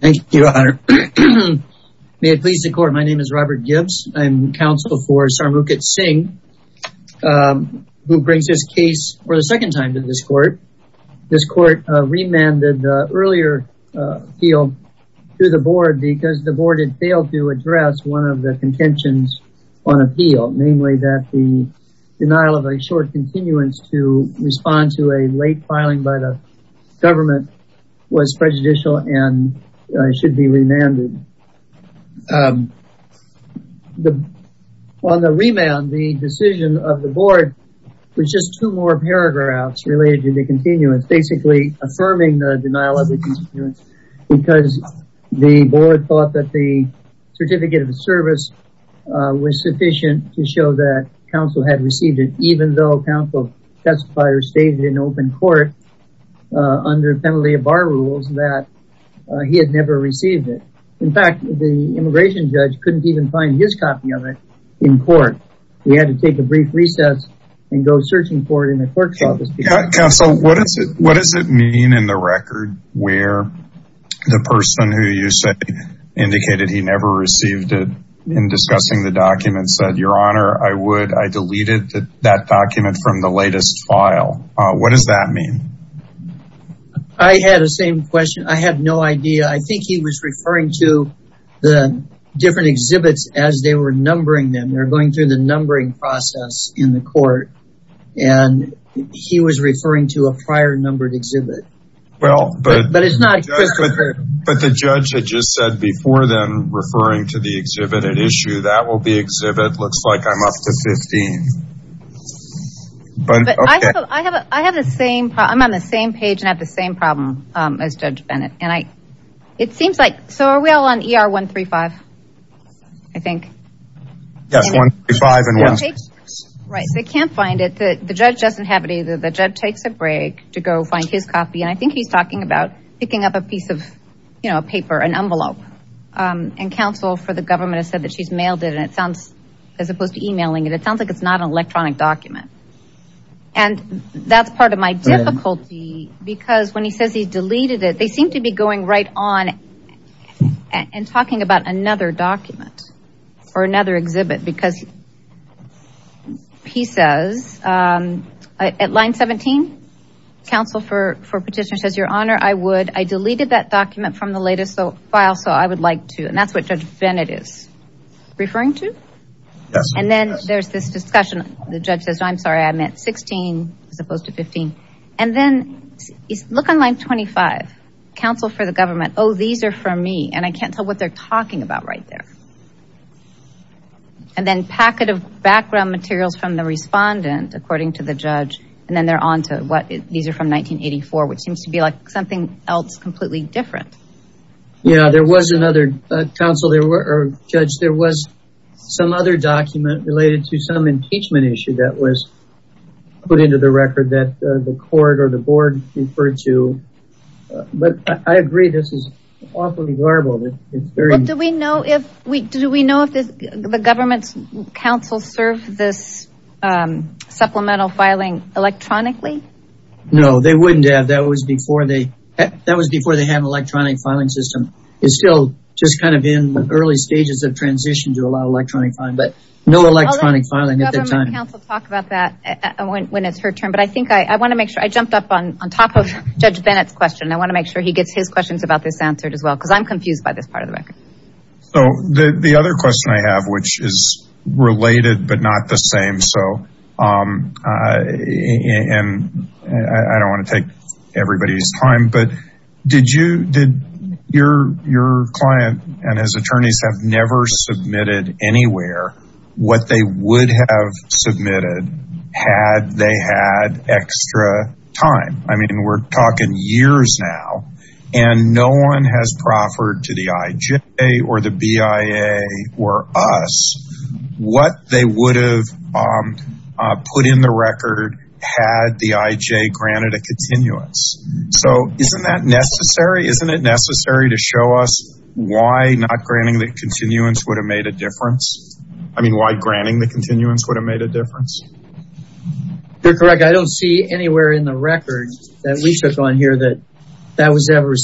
Thank you, Your Honor. May it please the court. My name is Robert Gibbs. I'm counsel for Sarmukit Singh, who brings this case for the second time to this court. This court remanded earlier appeal to the board because the board had failed to address one of the contentions on appeal, namely that the denial of a short continuance to respond to a late filing by the government was prejudicial and should be remanded. On the remand, the decision of the board was just two more paragraphs related to the continuance, basically affirming the denial of the continuance, because the board thought that the Certificate of Service was sufficient to show that counsel had received it, even though counsel testifiers stated in open court under penalty of bar rules that he had never received it. In fact, the immigration judge couldn't even find his copy of it in court. He had to take a brief recess and go searching for it in the clerk's office. Counsel, what does it mean in the record where the person who you said indicated he never received it in discussing the document said, Your Honor, I would I deleted that document from the latest file. What does that mean? I had the same question. I have no idea. I think he was referring to the different exhibits as they were numbering them. They're going through the numbering process in the court, and he was referring to a prior numbered exhibit. But it's not Christopher. But the judge had just said before them, referring to the exhibit at issue, that will be exhibit looks like I'm up to 15. But I have I have the same I'm on the same page and have the same problem as Judge Bennett. And I it seems like so are we all on ER 135? I think. Yes, 135. Right. They can't find it. The judge doesn't have it either. The judge takes a break to go find his copy. And I think he's talking about picking up a piece of, you know, a paper, an envelope and counsel for the government has said that she's mailed it. As opposed to emailing it, it sounds like it's not an electronic document. And that's part of my difficulty, because when he says he's deleted it, they seem to be going right on and talking about another document or another exhibit because he says at line 17, counsel for petitioner says, Your Honor, I would I deleted that document from the latest file, so I would like to. And that's what Judge Bennett is referring to. And then there's this discussion. The judge says, I'm sorry, I meant 16 as opposed to 15. And then look on line 25, counsel for the government. Oh, these are for me. And I can't tell what they're talking about right there. And then packet of background materials from the respondent, according to the judge, and then they're on to what these are from 1984, which seems to be like something else completely different. Yeah, there was another council there were judged. There was some other document related to some impeachment issue that was put into the record that the court or the board referred to. But I agree, this is awfully horrible. Do we know if we do we know if the government's council serve this supplemental filing electronically? No, they wouldn't have that was before they that was before they have electronic filing system is still just kind of in the early stages of transition to a lot of electronic filing, but no electronic filing at that time. Council talk about that when it's her turn. But I think I want to make sure I jumped up on on top of Judge Bennett's question. I want to make sure he gets his questions about this answered as well, because I'm confused by this part of the record. So the other question I have, which is related, but not the same. So and I don't want to take everybody's time. But did you did your your client and his attorneys have never submitted anywhere what they would have submitted had they had extra time? I mean, we're talking years now, and no one has proffered to the IJ or the BIA or us what they would have put in the record had the IJ granted a continuance. So isn't that necessary? Isn't it necessary to show us why not granting the continuance would have made a difference? I mean, why granting the continuance would have made a difference? You're correct. I don't see anywhere in the record that we took on here that that was ever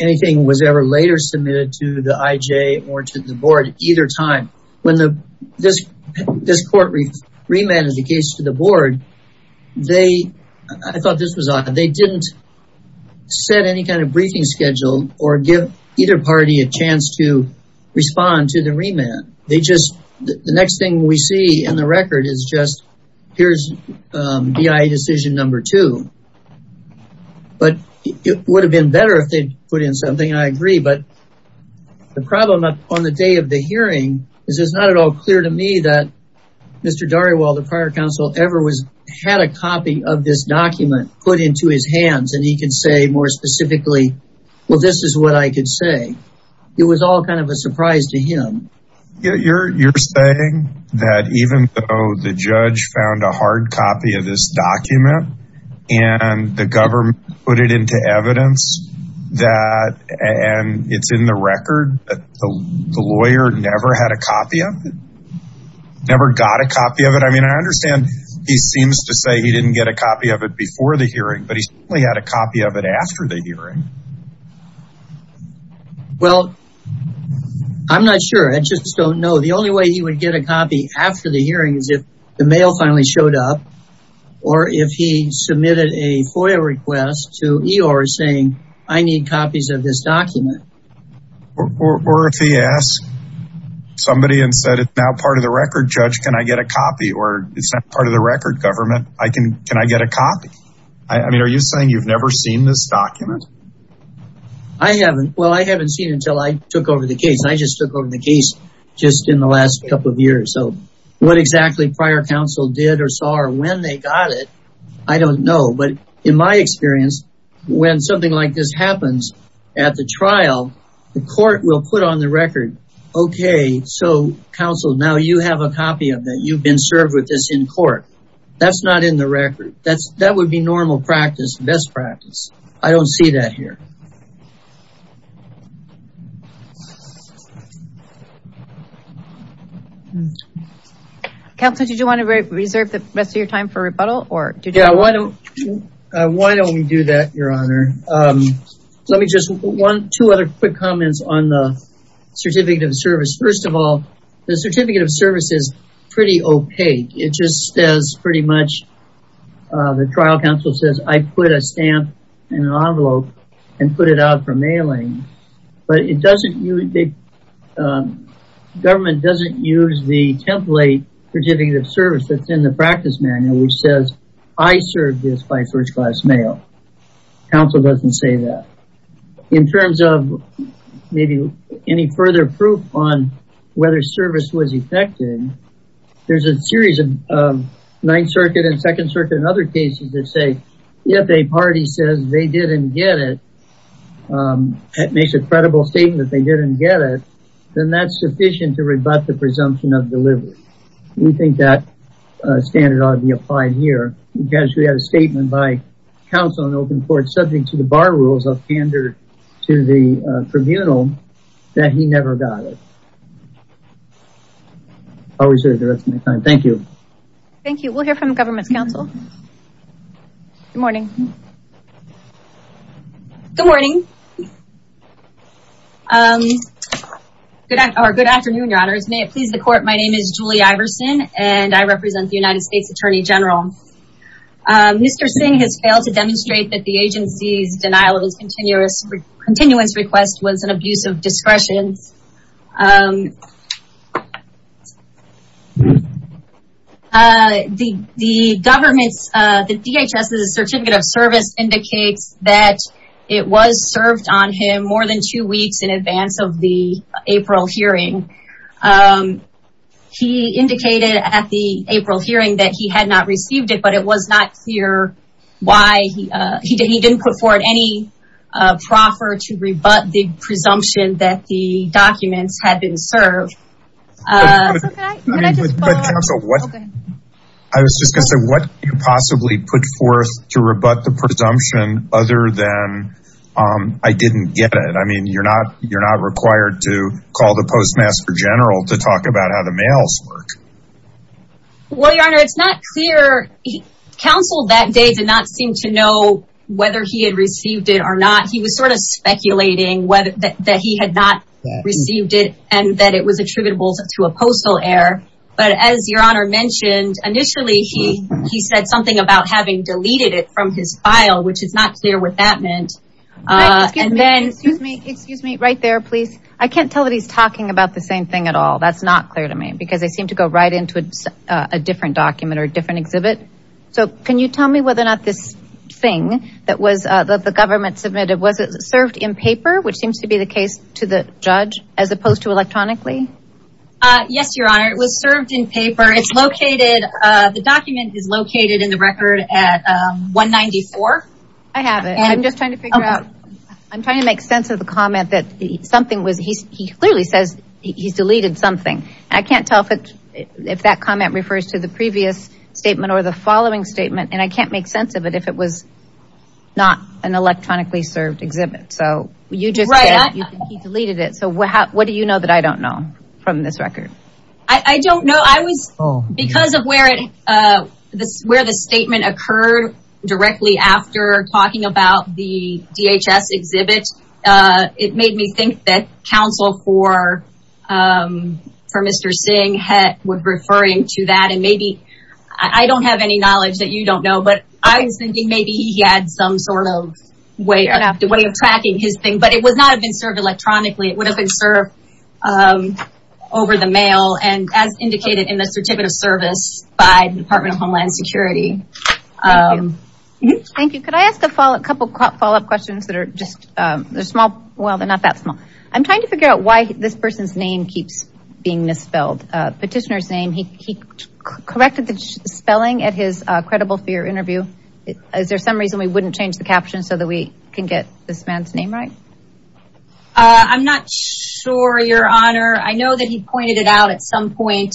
anything was ever later submitted to the IJ or to the board at either time. When this court remanded the case to the board, I thought this was odd. They didn't set any kind of briefing schedule or give either party a chance to respond to the remand. They just the next thing we see in the record is just here's BIA decision number two. But it would have been better if they put in something. I agree. But the problem on the day of the hearing is it's not at all clear to me that Mr. Dariwal, the prior counsel ever was had a copy of this document put into his hands. And he can say more specifically, well, this is what I could say. It was all kind of a surprise to him. You're saying that even though the judge found a hard copy of this document and the government put it into evidence that and it's in the record that the lawyer never had a copy of it? Never got a copy of it? I mean, I understand he seems to say he didn't get a copy of it before the hearing, but he certainly had a copy of it after the hearing. Well, I'm not sure. I just don't know. The only way he would get a copy after the hearing is if the mail finally showed up or if he submitted a FOIA request to EOR saying, I need copies of this document. Or if he asked somebody and said, it's now part of the record, judge, can I get a copy or it's not part of the record government? Can I get a copy? I mean, are you saying you've never seen this document? I haven't. Well, I haven't seen it until I took over the case. I just took over the case just in the last couple of years. So what exactly prior counsel did or saw or when they got it, I don't know. But in my experience, when something like this happens at the trial, the court will put on the record, okay, so counsel, now you have a copy of that. You've been served with this in court. That's not in the record. That would be normal practice, best practice. I don't see that here. Counselor, did you want to reserve the rest of your time for rebuttal? Yeah, why don't we do that, Your Honor? Let me just, one, two other quick comments on the certificate of service. First of all, the certificate of service is pretty opaque. It just says pretty much, the trial counsel says, I put a stamp in an envelope and put it out for mailing. But it doesn't, the government doesn't use the template certificate of service that's in the practice manual, which says, I served this by first class mail. Counsel doesn't say that. In terms of maybe any further proof on whether service was effective, there's a series of Ninth Circuit and Second Circuit and other cases that say, if a party says they didn't get it, that makes a credible statement that they didn't get it, then that's sufficient to rebut the presumption of delivery. We think that standard ought to be applied here because we had a statement by counsel in open court subject to the bar rules of candor to the tribunal that he never got it. I'll reserve the rest of my time. Thank you. We'll hear from the government's counsel. Good morning. Good morning. Good afternoon, your honors. May it please the court, my name is Julie Iverson, and I represent the United States Attorney General. Mr. Singh has failed to demonstrate that the agency's denial of his continuous request was an abuse of discretion. The government's, the DHS's certificate of service indicates that it was served on him more than two weeks in advance of the April hearing. He indicated at the April hearing that he had not received it, but it was not clear why he didn't put forward any proffer to rebut the presumption that the documents had been served. I was just going to say, what could you possibly put forth to rebut the presumption other than, um, I didn't get it. I mean, you're not, you're not required to call the postmaster general to talk about how the mails work. Well, your honor, it's not clear. Counsel that day did not seem to know whether he had received it or not. He was sort of speculating whether that he had not received it and that it was to a postal air. But as your honor mentioned, initially he, he said something about having deleted it from his file, which is not clear what that meant. Uh, and then, excuse me, excuse me, right there, please. I can't tell that he's talking about the same thing at all. That's not clear to me because they seem to go right into a, uh, a different document or a different exhibit. So can you tell me whether or not this thing that was, uh, that the government submitted, was it served in paper, which seems to be the case to the judge as opposed to electronically? Uh, yes, your honor. It was served in paper. It's located, uh, the document is located in the record at, um, one 94. I have it. I'm just trying to figure out, I'm trying to make sense of the comment that something was, he's, he clearly says he's deleted something. I can't tell if it, if that comment refers to the previous statement or the following statement. And I can't make sense of it if it was not an electronically served exhibit. So you just said he deleted it. What do you know that I don't know from this record? I don't know. I was, because of where it, uh, this, where the statement occurred directly after talking about the DHS exhibit, uh, it made me think that counsel for, um, for Mr. Singh had, would referring to that. And maybe I don't have any knowledge that you don't know, but I was thinking maybe he had some sort of way of tracking his thing, but it would not have been served electronically. It would have been served, um, over the mail and as indicated in the certificate of service by the Department of Homeland Security. Um, thank you. Could I ask a follow up, a couple of follow-up questions that are just, um, they're small. Well, they're not that small. I'm trying to figure out why this person's name keeps being misspelled, uh, petitioner's name. He, he corrected the spelling at his, uh, credible fear interview. Is there some reason we wouldn't change the caption so we can get this man's name right? Uh, I'm not sure your honor. I know that he pointed it out at some point.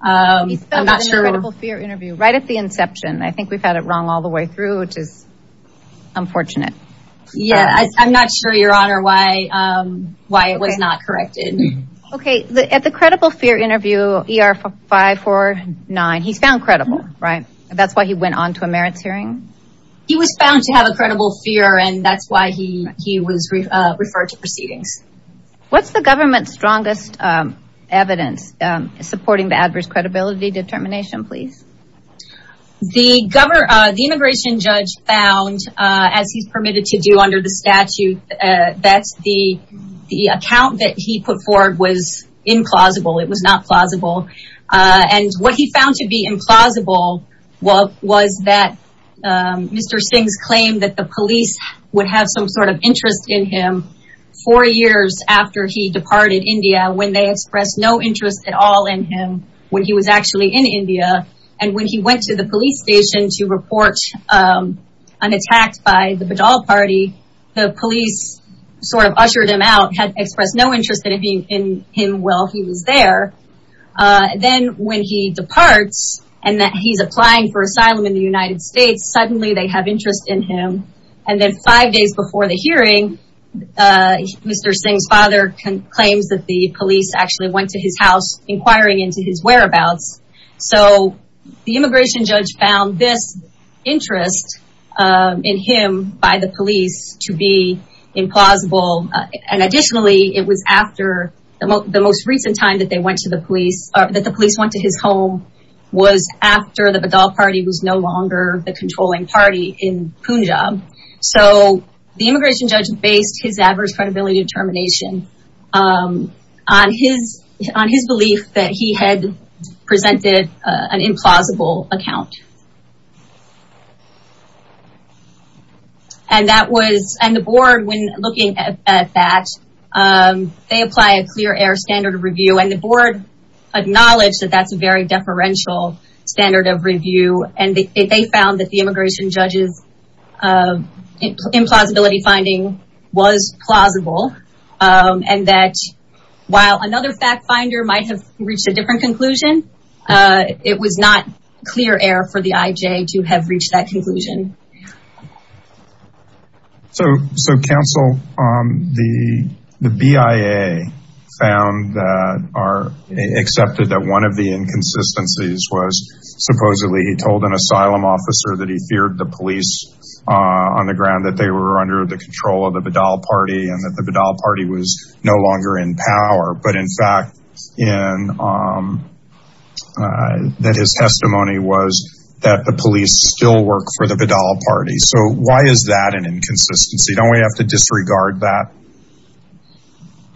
Um, I'm not sure. Right at the inception. I think we've had it wrong all the way through, which is unfortunate. Yeah. I'm not sure your honor why, um, why it was not corrected. Okay. At the credible fear interview ER 549, he's found credible, right? That's why he went onto a merits hearing. He was found to have a credible fear and that's why he, he was referred to proceedings. What's the government's strongest, um, evidence, um, supporting the adverse credibility determination, please. The governor, uh, the immigration judge found, uh, as he's permitted to do under the statute, uh, that's the, the account that he put forward was implausible. It was not plausible. Uh, and what he found to be implausible was that, um, Mr. Singh's claim that the police would have some sort of interest in him four years after he departed India, when they expressed no interest at all in him when he was actually in India. And when he went to the police station to report, um, an attack by the Badal party, the police sort of ushered him out, expressed no interest in him while he was there. Uh, then when he departs and that he's applying for asylum in the United States, suddenly they have interest in him. And then five days before the hearing, uh, Mr. Singh's father can claims that the police actually went to his house inquiring into his whereabouts. So the immigration judge found this interest, um, in him by the it was after the most, the most recent time that they went to the police or that the police went to his home was after the Badal party was no longer the controlling party in Punjab. So the immigration judge based his adverse credibility determination, um, on his, on his belief that he presented an implausible account. And that was, and the board, when looking at that, um, they apply a clear air standard of review and the board acknowledged that that's a very deferential standard of review. And they found that the immigration judges, uh, implausibility finding was plausible. Um, and that while another fact finder might have reached a different conclusion, uh, it was not clear air for the IJ to have reached that conclusion. So, so counsel, um, the, the BIA found that are accepted that one of the inconsistencies was supposedly he told an asylum officer that he feared the police, uh, on the ground that they were under the control of the Badal party and that the Badal party was no longer in power. But in fact, in, um, uh, that his testimony was that the police still work for the Badal party. So why is that an inconsistency? Don't we have to disregard that?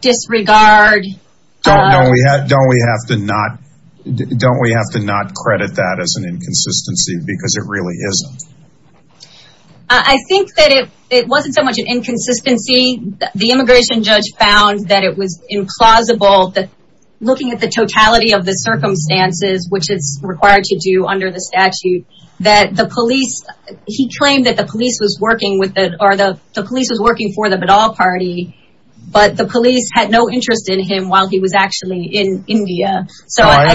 Disregard? Don't we have, don't we have to not, don't we have to not credit that as an inconsistency because it really isn't. I think that it, it wasn't so much an inconsistency. The immigration judge found that it was implausible that looking at the totality of the circumstances, which it's required to do under the statute, that the police, he claimed that the police was working with the, or the police was working for the Badal party, but the police had no interest in him while he was actually in India. So I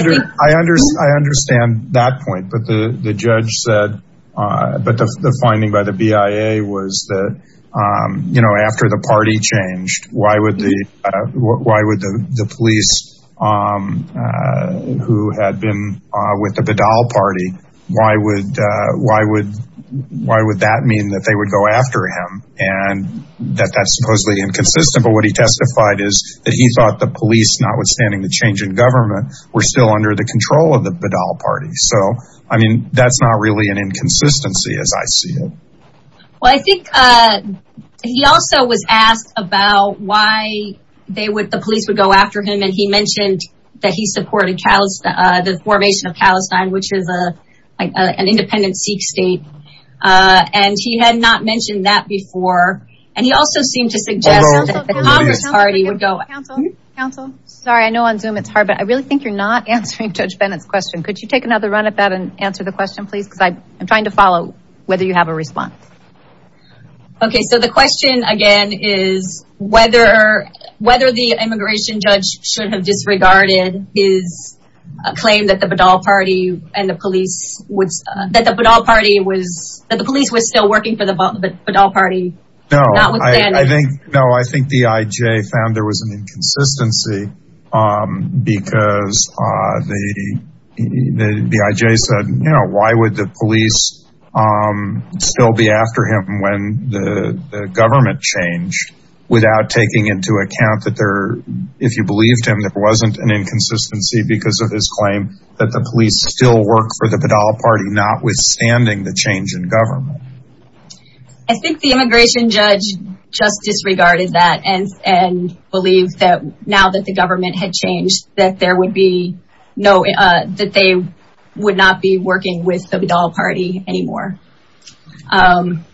understand that point, but the judge said, but the finding by the BIA was that, um, you know, after the party changed, why would the, why would the police, um, uh, who had been, uh, with the Badal party, why would, uh, why would, why would that mean that they would go after him and that that's supposedly inconsistent? But what he testified is that he thought the police, notwithstanding the change in government, were still under the control of the Badal party. So, I mean, that's not really an inconsistency as I see it. Well, I think, uh, he also was asked about why they would, the police would go after him. And he mentioned that he supported the formation of Palestine, which is a, like an independent Sikh state. Uh, and he had not mentioned that before. And he also seemed to suggest that the Congress Judge Bennett's question, could you take another run at that and answer the question, please? Cause I I'm trying to follow whether you have a response. Okay. So the question again is whether, whether the immigration judge should have disregarded his claim that the Badal party and the police would, uh, that the Badal party was that the police was still working for the Badal party. No, I think, no, I think the IJ found there was an inconsistency, um, because, uh, the, the IJ said, you know, why would the police, um, still be after him when the government changed without taking into account that there, if you believed him, there wasn't an inconsistency because of his claim that the police still work for the Badal party, notwithstanding the change in government. I think the immigration judge just disregarded that and, and believed that now that the government had changed, that there would be no, uh, that they would not be working with the Badal party anymore. Um,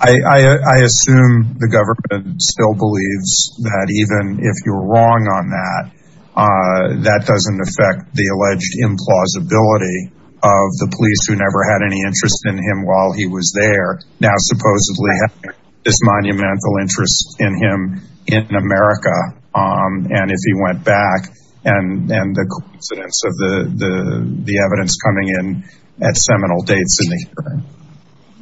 I, I, I assume the government still believes that even if you were wrong on that, uh, that doesn't affect the alleged implausibility of the police who never had any interest in him while he was there. Now, supposedly this monumental interest in him in America. Um, and if he went back and, and the coincidence of the, the, the evidence coming in at seminal dates in the hearing.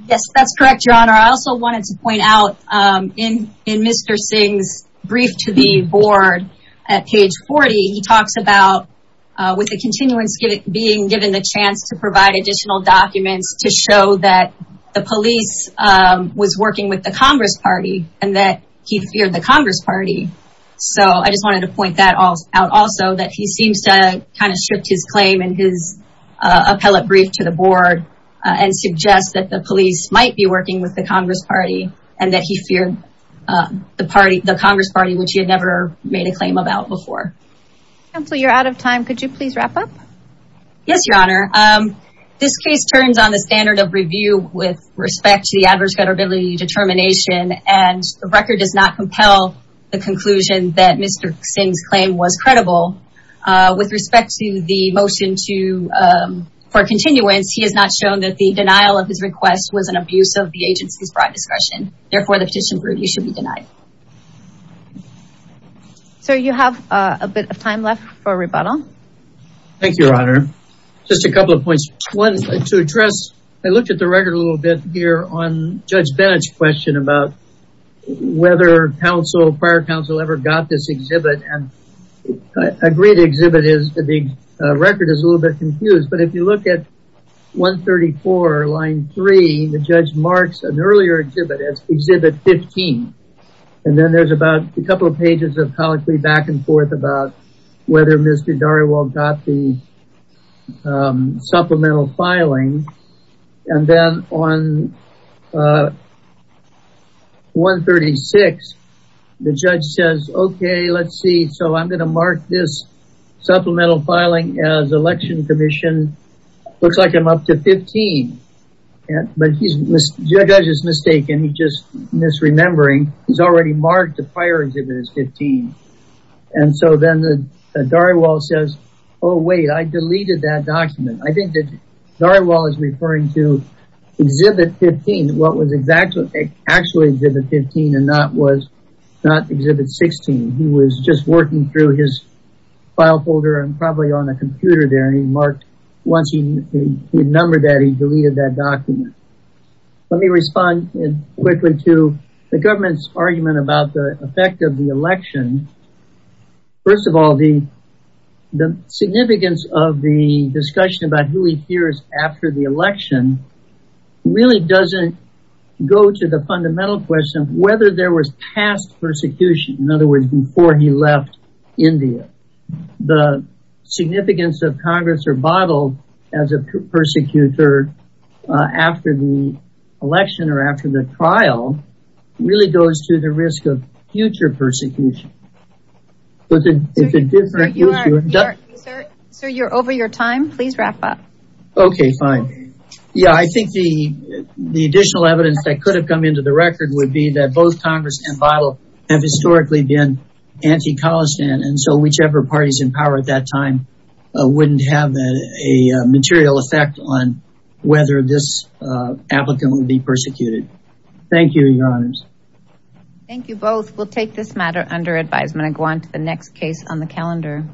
Yes, that's correct. Your honor. I also wanted to point out, um, in, in Mr. Singh's brief to the board at page 40, he talks about, uh, with the continuance being given the chance to provide additional documents to show that the police, um, was working with the Congress party and that he feared the Congress party. So I just wanted to point that all out also that he seems to kind of stripped his claim and his, uh, appellate brief to the board and suggest that the police might be working with the Congress party and that he feared, uh, the party, the Congress party, which he had never made a claim about before. Counsel, you're out of time. Could you please wrap up? Yes, your honor. Um, this case turns on the standard of review with respect to the adverse credibility determination, and the record does not compel the conclusion that Mr. Singh's claim was credible. Uh, with respect to the motion to, um, for continuance, he has not shown that the denial of his request was an abuse of the agency's bribe discretion. Therefore, the petition for review should be denied. Okay. So you have, uh, a bit of time left for rebuttal. Thank you, your honor. Just a couple of points. One to address, I looked at the record a little bit here on Judge Bennett's question about whether counsel, prior counsel ever got this exhibit and I agree the exhibit is, the record is a little bit confused, but if you look at 134 line three, the judge marks an earlier exhibit as exhibit 15. And then there's about a couple of pages of colloquy back and forth about whether Mr. Dariwal got the, um, supplemental filing. And then on, uh, 136, the judge says, okay, let's see. So I'm going to mark this supplemental filing as election commission. Looks like I'm up to 15, but he's, the judge is mistaken. He's just misremembering. He's already marked the prior exhibit as 15. And so then the, uh, Dariwal says, oh, wait, I deleted that document. I think that Dariwal is referring to exhibit 15. What was exactly, actually exhibit 15 and not was not exhibit 16. He was just working through his file folder and probably on a computer there. And he marked, once he numbered that, he deleted that document. Let me respond quickly to the government's argument about the effect of the election. First of all, the, the significance of the discussion about who he hears after the election really doesn't go to the fundamental question of whether there was past persecution. In other words, before he left India, the significance of Congress or Bible as a persecutor after the election or after the trial really goes to the risk of future persecution. Sir, you're over your time, please wrap up. Okay, fine. Yeah. I think the, the additional evidence that could have come into the record would be that both Congress and Bible have anti-Khalistan. And so whichever parties in power at that time, uh, wouldn't have a material effect on whether this, uh, applicant would be persecuted. Thank you, your honors. Thank you both. We'll take this matter under advisement and go on to the next case on the calendar.